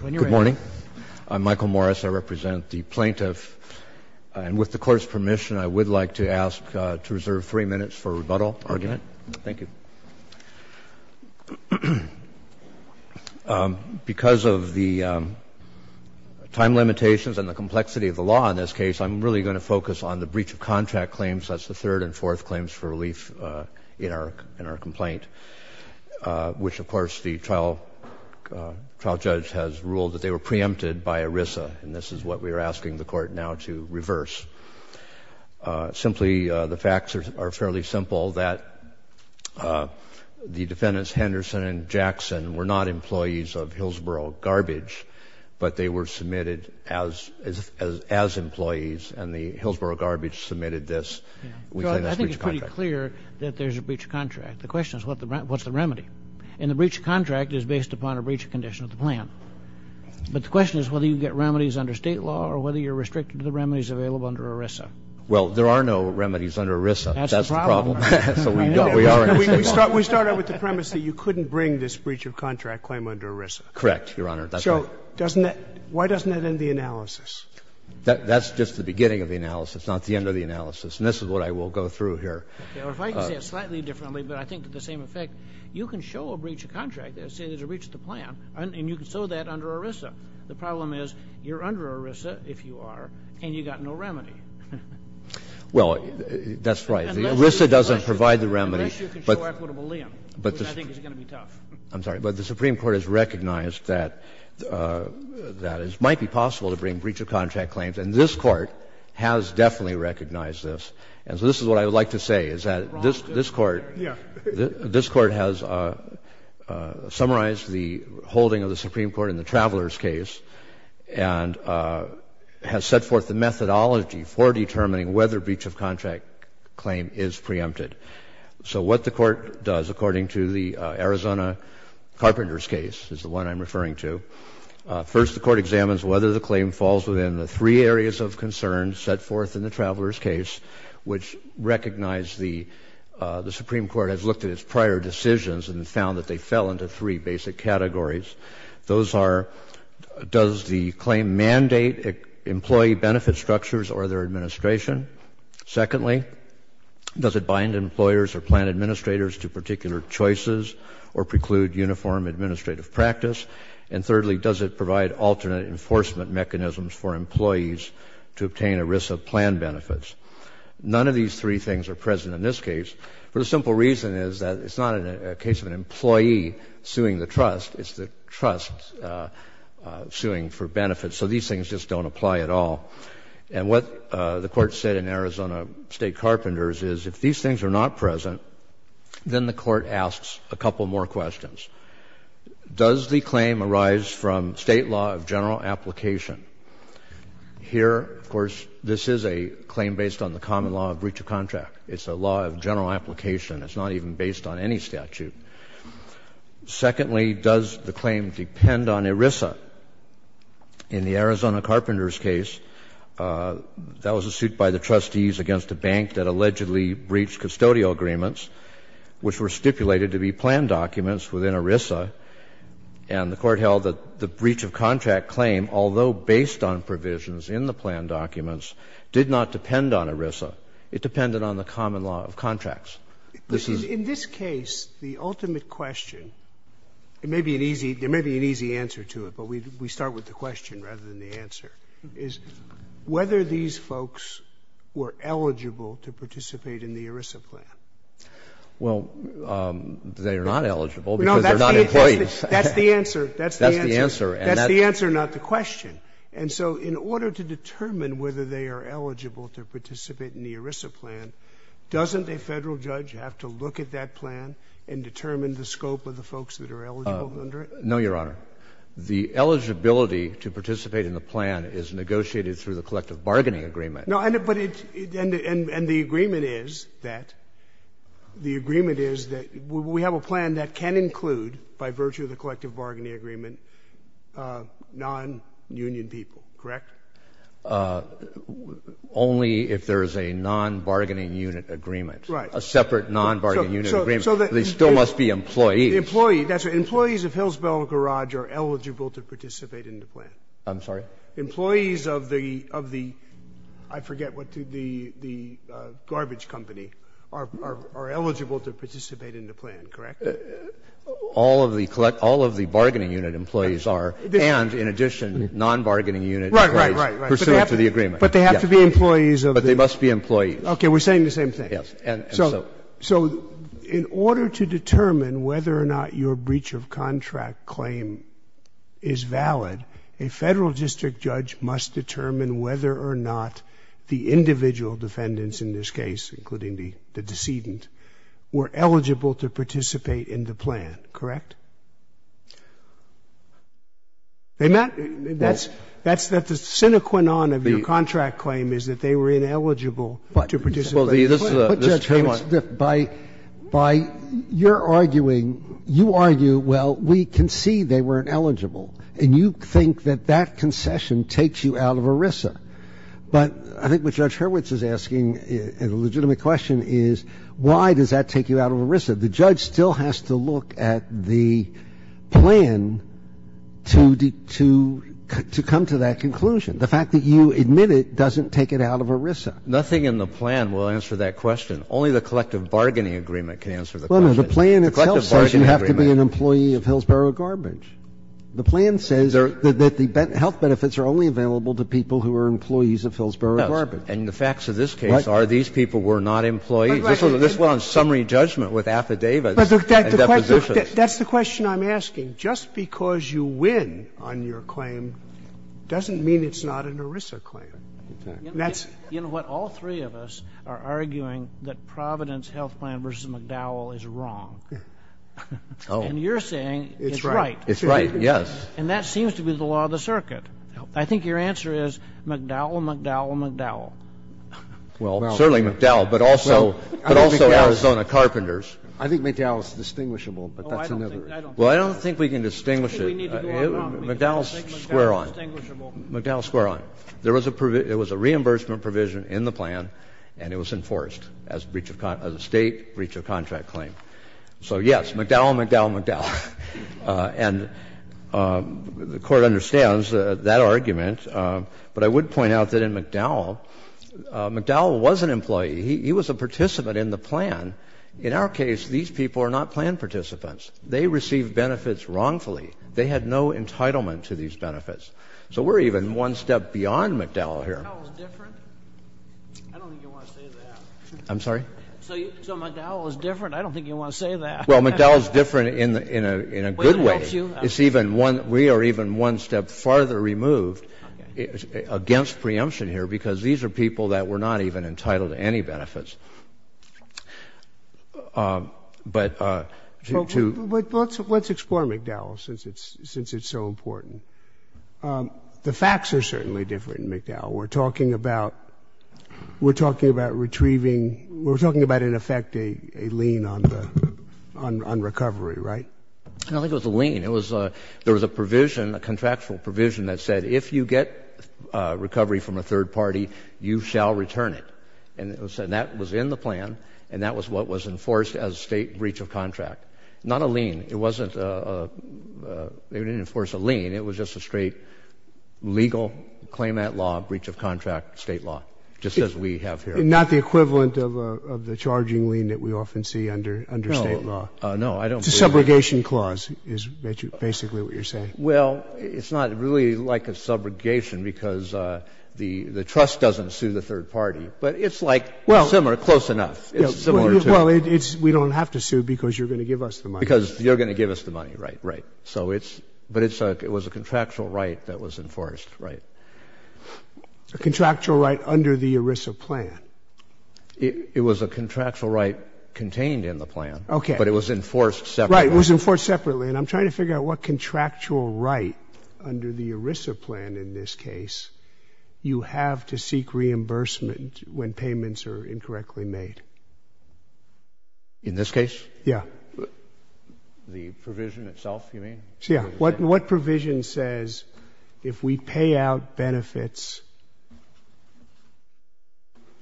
Good morning. I'm Michael Morris. I represent the plaintiff. And with the Court's permission, I would like to ask to reserve three minutes for a rebuttal argument. Thank you. Because of the time limitations and the complexity of the law in this case, I'm really going to focus on the breach of contract claims. That's the third and fourth claims for relief in our complaint, which, of course, the trial judge has ruled that they were preempted by ERISA. And this is what we are asking the Court now to reverse. Simply, the facts are fairly simple, that the defendants, Henderson and Jackson, were not employees of Hillsboro Garbage, but they were submitted as employees, and the Hillsboro Garbage submitted this. I think it's pretty clear that there's a breach of contract. The question is, what's the remedy? And the breach of contract is based upon a breach of condition of the plan. But the question is whether you get remedies under State law or whether you're restricted to the remedies available under ERISA. Well, there are no remedies under ERISA. That's the problem. That's the problem. We started with the premise that you couldn't bring this breach of contract claim under ERISA. Correct, Your Honor. So doesn't that – why doesn't that end the analysis? That's just the beginning of the analysis, not the end of the analysis. And this is what I will go through here. If I can say it slightly differently, but I think to the same effect, you can show a breach of contract, say there's a breach of the plan, and you can show that under ERISA. The problem is you're under ERISA, if you are, and you've got no remedy. Well, that's right. The ERISA doesn't provide the remedy. Unless you can show equitable lien, which I think is going to be tough. I'm sorry. But the Supreme Court has recognized that it might be possible to bring breach of contract claims, and this Court has definitely recognized this. And so this is what I would like to say, is that this Court has summarized the holding of the Supreme Court in the Traveler's case and has set forth the methodology for determining whether breach of contract claim is preempted. So what the Court does, according to the Arizona Carpenter's case, is the one I'm referring to. First, the Court examines whether the claim falls within the three areas of concern set forth in the Traveler's case, which recognize the Supreme Court has looked at its prior decisions and found that they fell into three basic categories. Those are, does the claim mandate employee benefit structures or their administration? Secondly, does it bind employers or plan administrators to particular choices or preclude uniform administrative practice? And thirdly, does it provide alternate enforcement mechanisms for employees to obtain ERISA plan benefits? None of these three things are present in this case, for the simple reason is that it's not a case of an employee suing the trust. It's the trust suing for benefits. So these things just don't apply at all. And what the Court said in Arizona State Carpenters is if these things are not present, then the Court asks a couple more questions. Does the claim arise from State law of general application? Here, of course, this is a claim based on the common law of breach of contract. It's a law of general application. It's not even based on any statute. Secondly, does the claim depend on ERISA? In the Arizona Carpenters case, that was a suit by the trustees against a bank that allegedly breached custodial agreements, which were stipulated to be plan documents within ERISA. And the Court held that the breach of contract claim, although based on provisions in the plan documents, did not depend on ERISA. It depended on the common law of contracts. This is the ultimate question. There may be an easy answer to it, but we start with the question rather than the answer, is whether these folks were eligible to participate in the ERISA plan. Well, they are not eligible because they're not employees. That's the answer. That's the answer. That's the answer, not the question. And so in order to determine whether they are eligible to participate in the ERISA plan, doesn't a Federal judge have to look at that plan and determine the scope of the folks that are eligible under it? No, Your Honor. The eligibility to participate in the plan is negotiated through the collective bargaining agreement. No, but it's – and the agreement is that – the agreement is that we have a plan that can include, by virtue of the collective bargaining agreement, non-union people, correct? Only if there is a non-bargaining unit agreement. Right. A separate non-bargaining unit agreement. So that they still must be employees. Employees. That's right. Employees of Hillsborough Garage are eligible to participate in the plan. I'm sorry? Employees of the – of the – I forget what the – the garbage company are eligible to participate in the plan, correct? All of the bargaining unit employees are, and in addition, non-bargaining unit employees, pursuant to the agreement. Right, right, right. But they have to be employees of the – But they must be employees. We're saying the same thing. And so – But if, whether or not your breach of contract claim is valid, a Federal district judge must determine whether or not the individual defendants in this case, including the – the decedent, were eligible to participate in the plan, correct? They met – that's – that's the sine qua non of your contract claim is that they And so you can't say, well, this is a – this is a – this is a claim on – But, Judge, by – by your arguing, you argue, well, we concede they weren't eligible, and you think that that concession takes you out of ERISA. But I think what Judge Hurwitz is asking, and a legitimate question, is why does that take you out of ERISA? The judge still has to look at the plan to – to come to that conclusion. The fact that you admit it doesn't take it out of ERISA. Nothing in the plan will answer that question. Only the collective bargaining agreement can answer the question. Well, no, the plan itself says you have to be an employee of Hillsborough Garbage. The plan says that the health benefits are only available to people who are employees of Hillsborough Garbage. And the facts of this case are these people were not employees. This was a summary judgment with affidavits and depositions. But that's the question I'm asking. Just because you win on your claim doesn't mean it's not an ERISA claim. Exactly. You know what? All three of us are arguing that Providence Health Plan v. McDowell is wrong. Oh. And you're saying it's right. It's right, yes. And that seems to be the law of the circuit. I think your answer is McDowell, McDowell, McDowell. Well, certainly McDowell, but also, but also Arizona Carpenters. I think McDowell is distinguishable, but that's another issue. Well, I don't think we can distinguish it. McDowell's square on. McDowell's square on. There was a reimbursement provision in the plan, and it was enforced as a breach of, as a State breach of contract claim. So, yes, McDowell, McDowell, McDowell. And the Court understands that argument. But I would point out that in McDowell, McDowell was an employee. He was a participant in the plan. In our case, these people are not plan participants. They received benefits wrongfully. They had no entitlement to these benefits. So we're even one step beyond McDowell here. McDowell's different? I don't think you want to say that. I'm sorry? So McDowell is different? I don't think you want to say that. Well, McDowell's different in a good way. It's even one, we are even one step farther removed against preemption here, because these are people that were not even entitled to any benefits. But to... Let's explore McDowell, since it's so important. The facts are certainly different in McDowell. We're talking about, we're talking about retrieving, we're talking about, in effect, a lien on the, on recovery, right? I don't think it was a lien. It was a, there was a provision, a contractual provision that said, if you get recovery from a third party, you shall return it. And that was in the plan, and that was what was enforced as a state breach of contract. Not a lien. It wasn't a, they didn't enforce a lien. It was just a straight legal claimant law breach of contract state law, just as we have here. Not the equivalent of the charging lien that we often see under state law. No, I don't believe that. It's a subrogation clause, is basically what you're saying. Well, it's not really like a subrogation, because the trust doesn't sue the third party. But it's like similar, close enough. It's similar to... Well, it's, we don't have to sue, because you're going to give us the money. Because you're going to give us the money, right, right. So it's, but it's a, it was a contractual right that was enforced, right. A contractual right under the ERISA plan. It was a contractual right contained in the plan. Okay. But it was enforced separately. Right, it was enforced separately. And I'm trying to figure out what contractual right under the ERISA plan, in this case, you have to seek reimbursement when payments are incorrectly made. In this case? Yeah. The provision itself, you mean? Yeah. What provision says if we pay out benefits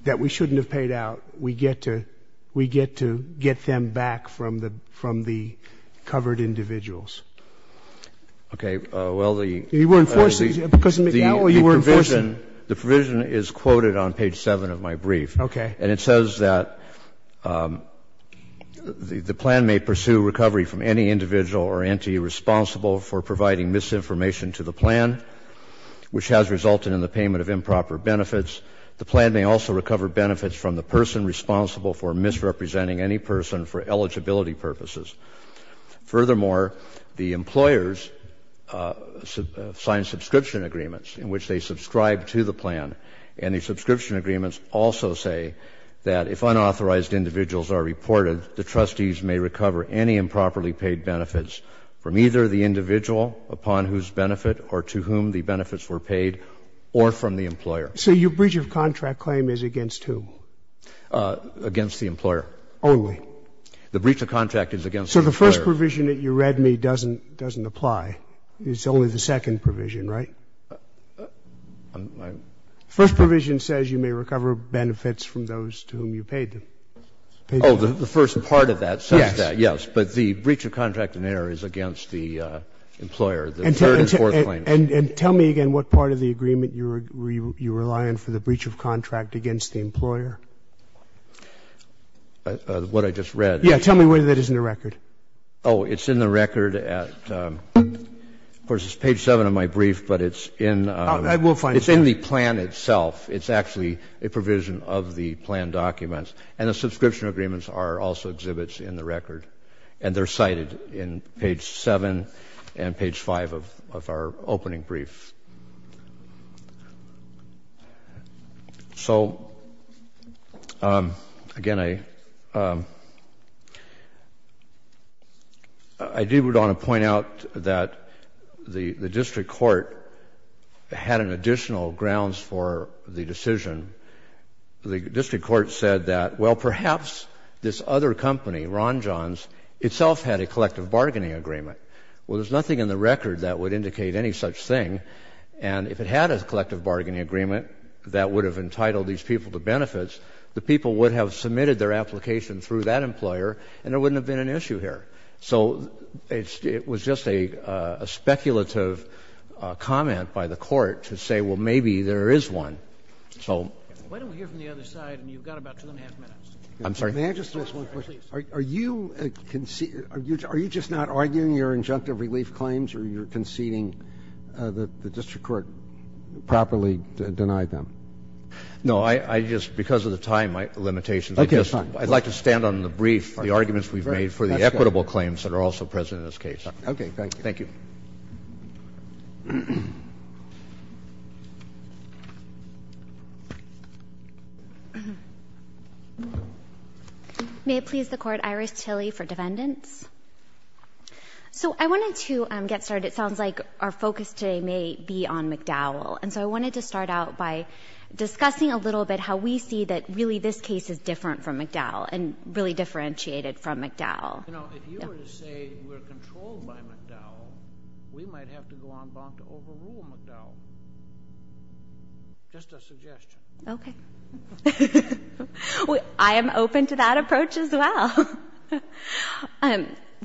that we shouldn't have paid out, we get to, we get to get them back from the, from the covered individuals? Okay. Well, the... You were enforcing, because now you were enforcing... The provision is quoted on page 7 of my brief. Okay. And it says that the plan may pursue recovery from any individual or entity responsible for providing misinformation to the plan, which has resulted in the payment of improper benefits. The plan may also recover benefits from the person responsible for misrepresenting any person for eligibility purposes. Furthermore, the employers sign subscription agreements in which they subscribe to the plan, and the subscription agreements also say that if unauthorized individuals are reported, the trustees may recover any improperly paid benefits from either the individual upon whose benefit or to whom the benefits were paid or from the employer. So your breach of contract claim is against who? Against the employer. Only? The breach of contract is against the employer. So the first provision that you read me doesn't, doesn't apply. It's only the second provision, right? My... The first provision says you may recover benefits from those to whom you paid them. Oh, the first part of that says that, yes. Yes. But the breach of contract in there is against the employer, the third and fourth claim. And tell me again what part of the agreement you rely on for the breach of contract against the employer. What I just read. Yes. Tell me whether that is in the record. Oh, it's in the record at, of course, it's page 7 of my brief, but it's in... I will find it. It's in the plan itself. It's actually a provision of the plan documents. And the subscription agreements are also exhibits in the record, and they're cited in page 7 and page 5 of our opening brief. So, again, I, I do want to point out that the, the district court had an additional grounds for the decision. The district court said that, well, perhaps this other company, Ron Johns, itself had a collective bargaining agreement. Well, there's nothing in the record that would indicate any such thing. And if it had a collective bargaining agreement that would have entitled these people to benefits, the people would have submitted their application through that employer, and there wouldn't have been an issue here. So it's, it was just a, a speculative comment by the court to say, well, maybe there is one. So... Why don't we hear from the other side? I mean, you've got about two and a half minutes. I'm sorry. May I just ask one question? Are you conceding, are you just not arguing your injunctive relief claims, or you're conceding that the district court properly denied them? No. I, I just, because of the time limitations, I'd like to stand on the brief, the arguments we've made for the equitable claims that are also present in this case. Okay. Thank you. Thank you. May it please the Court, Iris Tilly for defendants. So I wanted to get started. It sounds like our focus today may be on McDowell. And so I wanted to start out by discussing a little bit how we see that really this case is different from McDowell, and really differentiated from McDowell. You know, if you were to say we're controlled by McDowell, we might have to go on bond to overrule McDowell. Just a suggestion. Okay. I am open to that approach as well.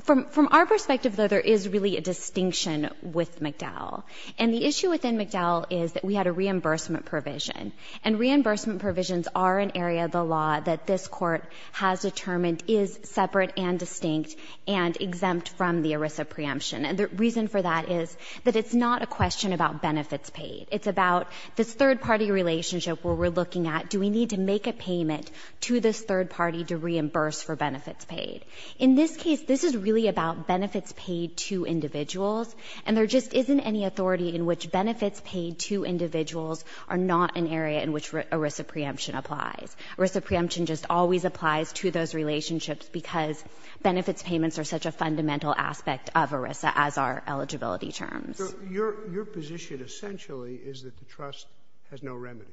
From our perspective, though, there is really a distinction with McDowell. And the issue within McDowell is that we had a reimbursement provision. And reimbursement provisions are an area of the law that this Court has determined is separate and distinct and exempt from the ERISA preemption. And the reason for that is that it's not a question about benefits paid. It's about this third-party relationship where we're looking at do we need to make a payment to this third party to reimburse for benefits paid. In this case, this is really about benefits paid to individuals. And there just isn't any authority in which benefits paid to individuals are not an area in which ERISA preemption applies. ERISA preemption just always applies to those relationships because benefits payments are such a fundamental aspect of ERISA as are eligibility terms. So your position essentially is that the trust has no remedy?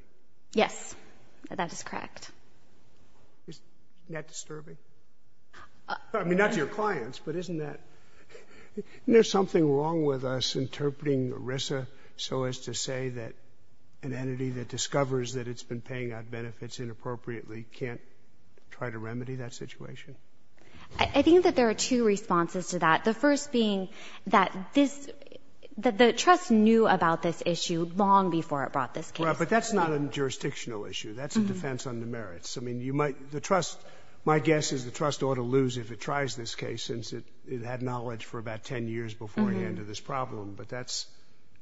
Yes. That is correct. Isn't that disturbing? I mean, not to your clients, but isn't that — isn't there something wrong with us interpreting ERISA so as to say that an entity that discovers that it's been paying out benefits inappropriately can't try to remedy that situation? I think that there are two responses to that. The first being that this — that the trust knew about this issue long before it brought this case. Right. But that's not a jurisdictional issue. That's a defense under merits. I mean, you might — the trust — my guess is the trust ought to lose if it tries this case since it had knowledge for about 10 years beforehand of this problem. But that's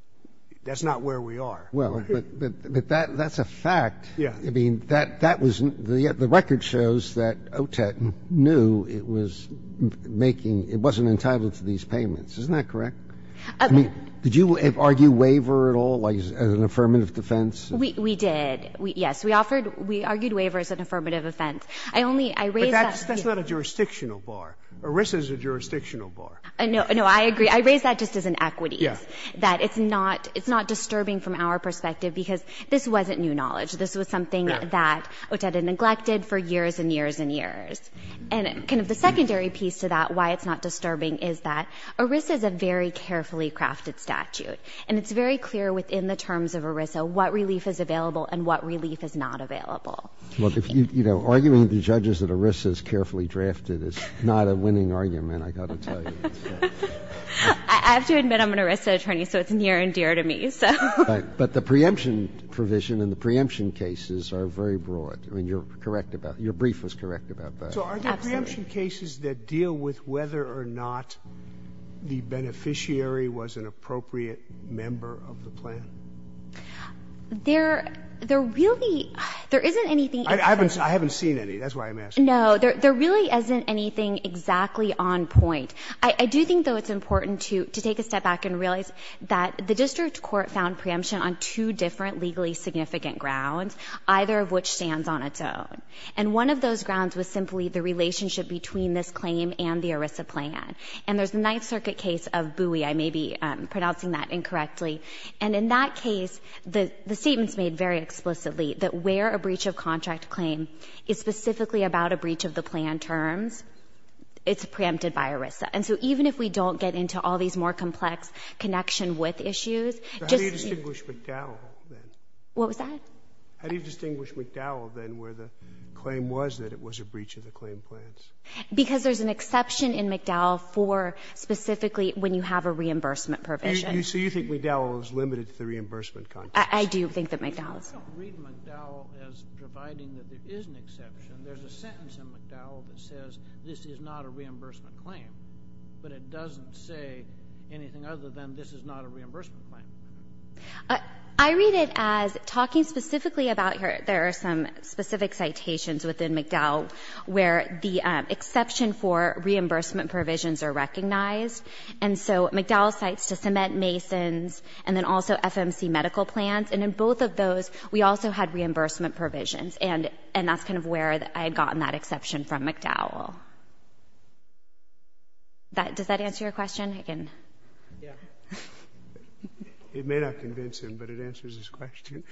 — that's not where we are. Well, but that's a fact. Yeah. I mean, that was — the record shows that OTET knew it was making — it wasn't entitled to these payments. Isn't that correct? I mean, did you argue waiver at all as an affirmative defense? We did. Yes. We offered — we argued waiver as an affirmative offense. I only — I raised that. But that's not a jurisdictional bar. ERISA is a jurisdictional bar. No, I agree. I raised that just as an equity. Yeah. And I agree that it's not — it's not disturbing from our perspective because this wasn't new knowledge. This was something that OTET had neglected for years and years and years. And kind of the secondary piece to that, why it's not disturbing, is that ERISA is a very carefully crafted statute. And it's very clear within the terms of ERISA what relief is available and what relief is not available. Well, if you — you know, arguing to the judges that ERISA is carefully drafted is not a winning argument, I've got to tell you. I have to admit I'm an ERISA attorney, so it's near and dear to me. But the preemption provision and the preemption cases are very broad. I mean, you're correct about — your brief was correct about that. Absolutely. So are there preemption cases that deal with whether or not the beneficiary was an appropriate member of the plan? There — there really — there isn't anything — I haven't seen any. That's why I'm asking. No. There really isn't anything exactly on point. I do think, though, it's important to — to take a step back and realize that the district court found preemption on two different legally significant grounds, either of which stands on its own. And one of those grounds was simply the relationship between this claim and the ERISA plan. And there's the Ninth Circuit case of Bowie. I may be pronouncing that incorrectly. And in that case, the statement's made very explicitly that where a breach of contract claim is specifically about a breach of the plan terms, it's preempted by ERISA. And so even if we don't get into all these more complex connection-with issues, just — So how do you distinguish McDowell, then? What was that? How do you distinguish McDowell, then, where the claim was that it was a breach of the claim plans? Because there's an exception in McDowell for specifically when you have a reimbursement provision. So you think McDowell is limited to the reimbursement contract? I do think that McDowell is. You don't read McDowell as providing that there is an exception. There's a sentence in McDowell that says this is not a reimbursement claim. But it doesn't say anything other than this is not a reimbursement claim. I read it as talking specifically about — there are some specific citations within McDowell where the exception for reimbursement provisions are recognized. And so McDowell cites to cement masons and then also FMC medical plans. And in both of those, we also had reimbursement provisions. And that's kind of where I had gotten that exception from McDowell. Does that answer your question, Higgin? Yeah. It may not convince him, but it answers his question.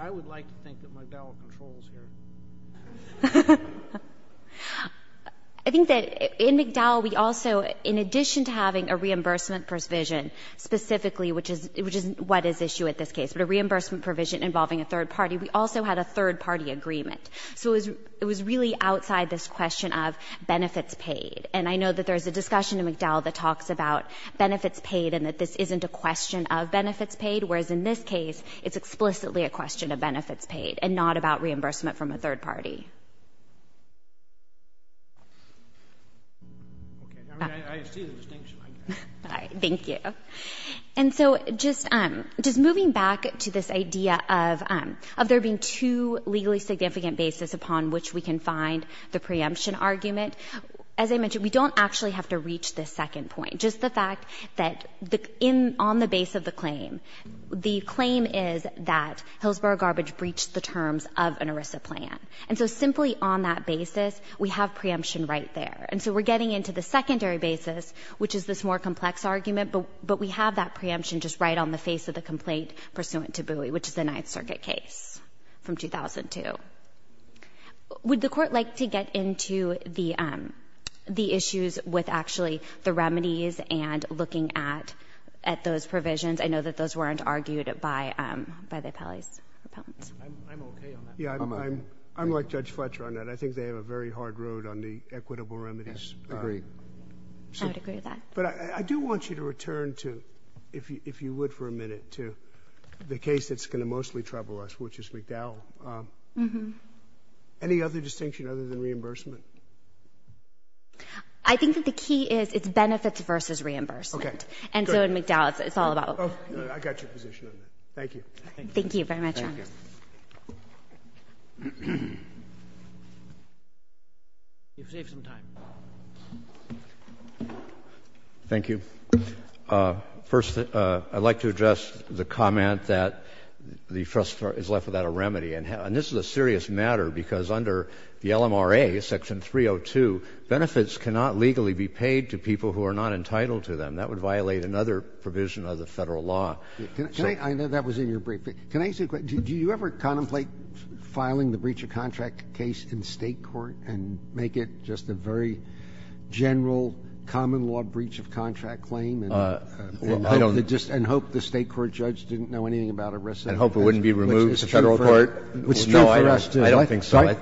I would like to think that McDowell controls here. I think that in McDowell, we also, in addition to having a reimbursement provision specifically, which is what is issue at this case, but a reimbursement provision involving a third party, we also had a third-party agreement. So it was really outside this question of benefits paid. And I know that there is a discussion in McDowell that talks about benefits paid and that this isn't a question of benefits paid, whereas in this case, it's explicitly a question of benefits paid and not about reimbursement from a third party. I see the distinction. Thank you. And so just moving back to this idea of there being two legally significant bases upon which we can find the preemption argument, as I mentioned, we don't actually have to reach this second point, just the fact that on the base of the claim, the claim is that Hillsborough Garbage breached the terms of an ERISA plan. And so simply on that basis, we have preemption right there. And so we're getting into the secondary basis, which is this more complex argument, but we have that preemption just right on the face of the complaint pursuant to Bowie, which is the Ninth Circuit case from 2002. Would the Court like to get into the issues with actually the remedies and looking at those provisions? I know that those weren't argued by the appellees. I'm okay on that. I'm like Judge Fletcher on that. I think they have a very hard road on the equitable remedies. I agree. I would agree with that. But I do want you to return to, if you would for a minute, to the case that's going to mostly trouble us, which is McDowell. Any other distinction other than reimbursement? I think that the key is it's benefits versus reimbursement. Okay. And so in McDowell, it's all about. I got your position on that. Thank you. Thank you very much, Your Honor. Thank you. You've saved some time. Thank you. First, I'd like to address the comment that the trust is left without a remedy. And this is a serious matter, because under the LMRA, Section 302, benefits cannot legally be paid to people who are not entitled to them. That would violate another provision of the Federal law. I know that was in your brief. Can I ask you a question? Do you ever contemplate filing the breach of contract case in State court and make it just a very general common law breach of contract claim and hope the State court judge didn't know anything about it? And hope it wouldn't be removed to Federal court? No, I don't think so.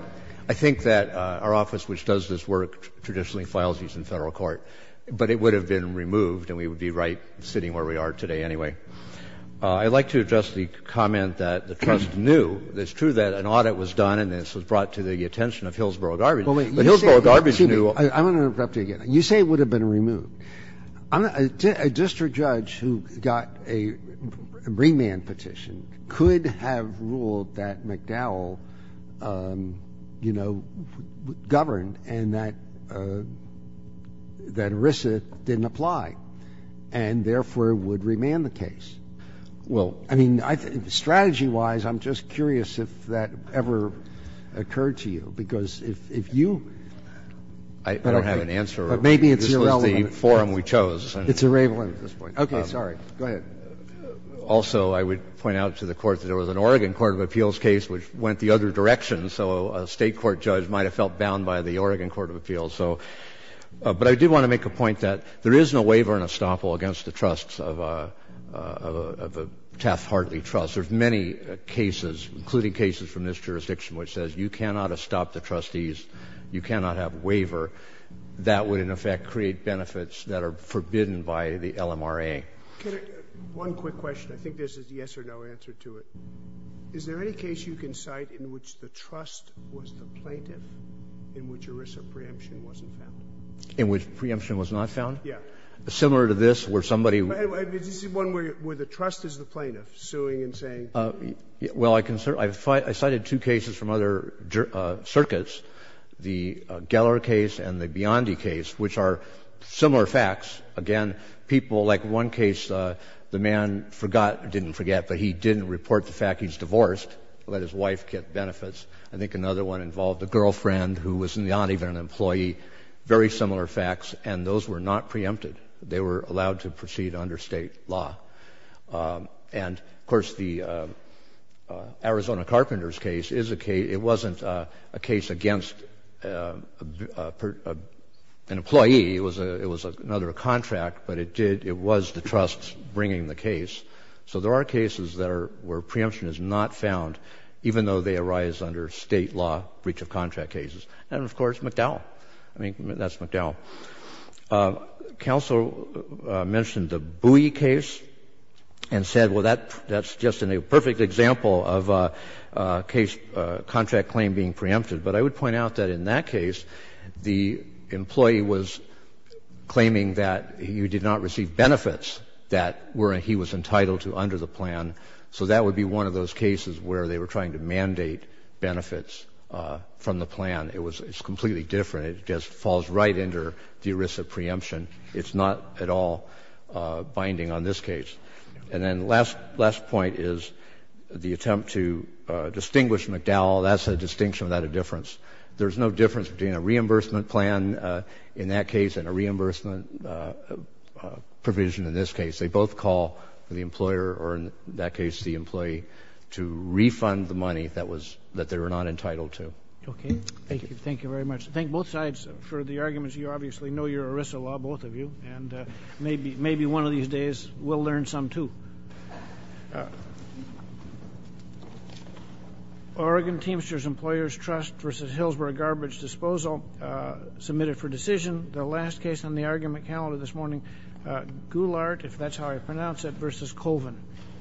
I think that our office, which does this work, traditionally files these in Federal court, but it would have been removed and we would be right sitting where we are today anyway. I'd like to address the comment that the trust knew. It's true that an audit was done and this was brought to the attention of Hillsborough Garbage, but Hillsborough Garbage knew. I'm going to interrupt you again. You say it would have been removed. A district judge who got a remand petition could have ruled that McDowell, you know, governed and that ERISA didn't apply and, therefore, would remand the case. Well, I mean, strategy-wise, I'm just curious if that ever occurred to you, because if you... I don't have an answer. But maybe it's irrelevant. This was the forum we chose. It's irrelevant at this point. Okay. Sorry. Go ahead. Also, I would point out to the Court that there was an Oregon court of appeals case which went the other direction, so a State court judge might have felt bound by the Oregon court of appeals. But I did want to make a point that there is no waiver and estoppel against the trusts of a Taft-Hartley trust. There's many cases, including cases from this jurisdiction, which says you cannot estop the trustees, you cannot have waiver. That would, in effect, create benefits that are forbidden by the LMRA. One quick question. I think there's a yes or no answer to it. Is there any case you can cite in which the trust was the plaintiff in which ERISA preemption wasn't found? In which preemption was not found? Yes. Similar to this, where somebody... This is one where the trust is the plaintiff, suing and saying... Well, I cited two cases from other circuits, the Geller case and the Biondi case, which are similar facts. Again, people like one case, the man forgot, didn't forget, but he didn't report the fact he's divorced, let his wife get benefits. I think another one involved a girlfriend who was not even an employee. Very similar facts, and those were not preempted. They were allowed to proceed under State law. And, of course, the Arizona Carpenters case is a case... It wasn't a case against an employee. It was another contract, but it did... It was the trust bringing the case. So there are cases that are where preemption is not found, even though they arise under State law breach of contract cases. And, of course, McDowell. I mean, that's McDowell. Counsel mentioned the Bowie case and said, well, that's just a perfect example of a case, contract claim being preempted. But I would point out that in that case, the employee was claiming that he did not receive benefits that he was entitled to under the plan. So that would be one of those cases where they were trying to mandate benefits from the plan. It was completely different. It just falls right under the ERISA preemption. It's not at all binding on this case. And then the last point is the attempt to distinguish McDowell. That's a distinction without a difference. There's no difference between a reimbursement plan in that case and a reimbursement provision in this case. They both call for the employer or, in that case, the employee to refund the money that they were not entitled to. Okay. Thank you. Thank you very much. I thank both sides for the arguments. You obviously know your ERISA law, both of you. And maybe one of these days we'll learn some, too. Oregon Teamsters Employers Trust v. Hillsborough Garbage Disposal submitted for decision. The last case on the argument calendar this morning, Goulart, if that's how I pronounce it, v. Colvin.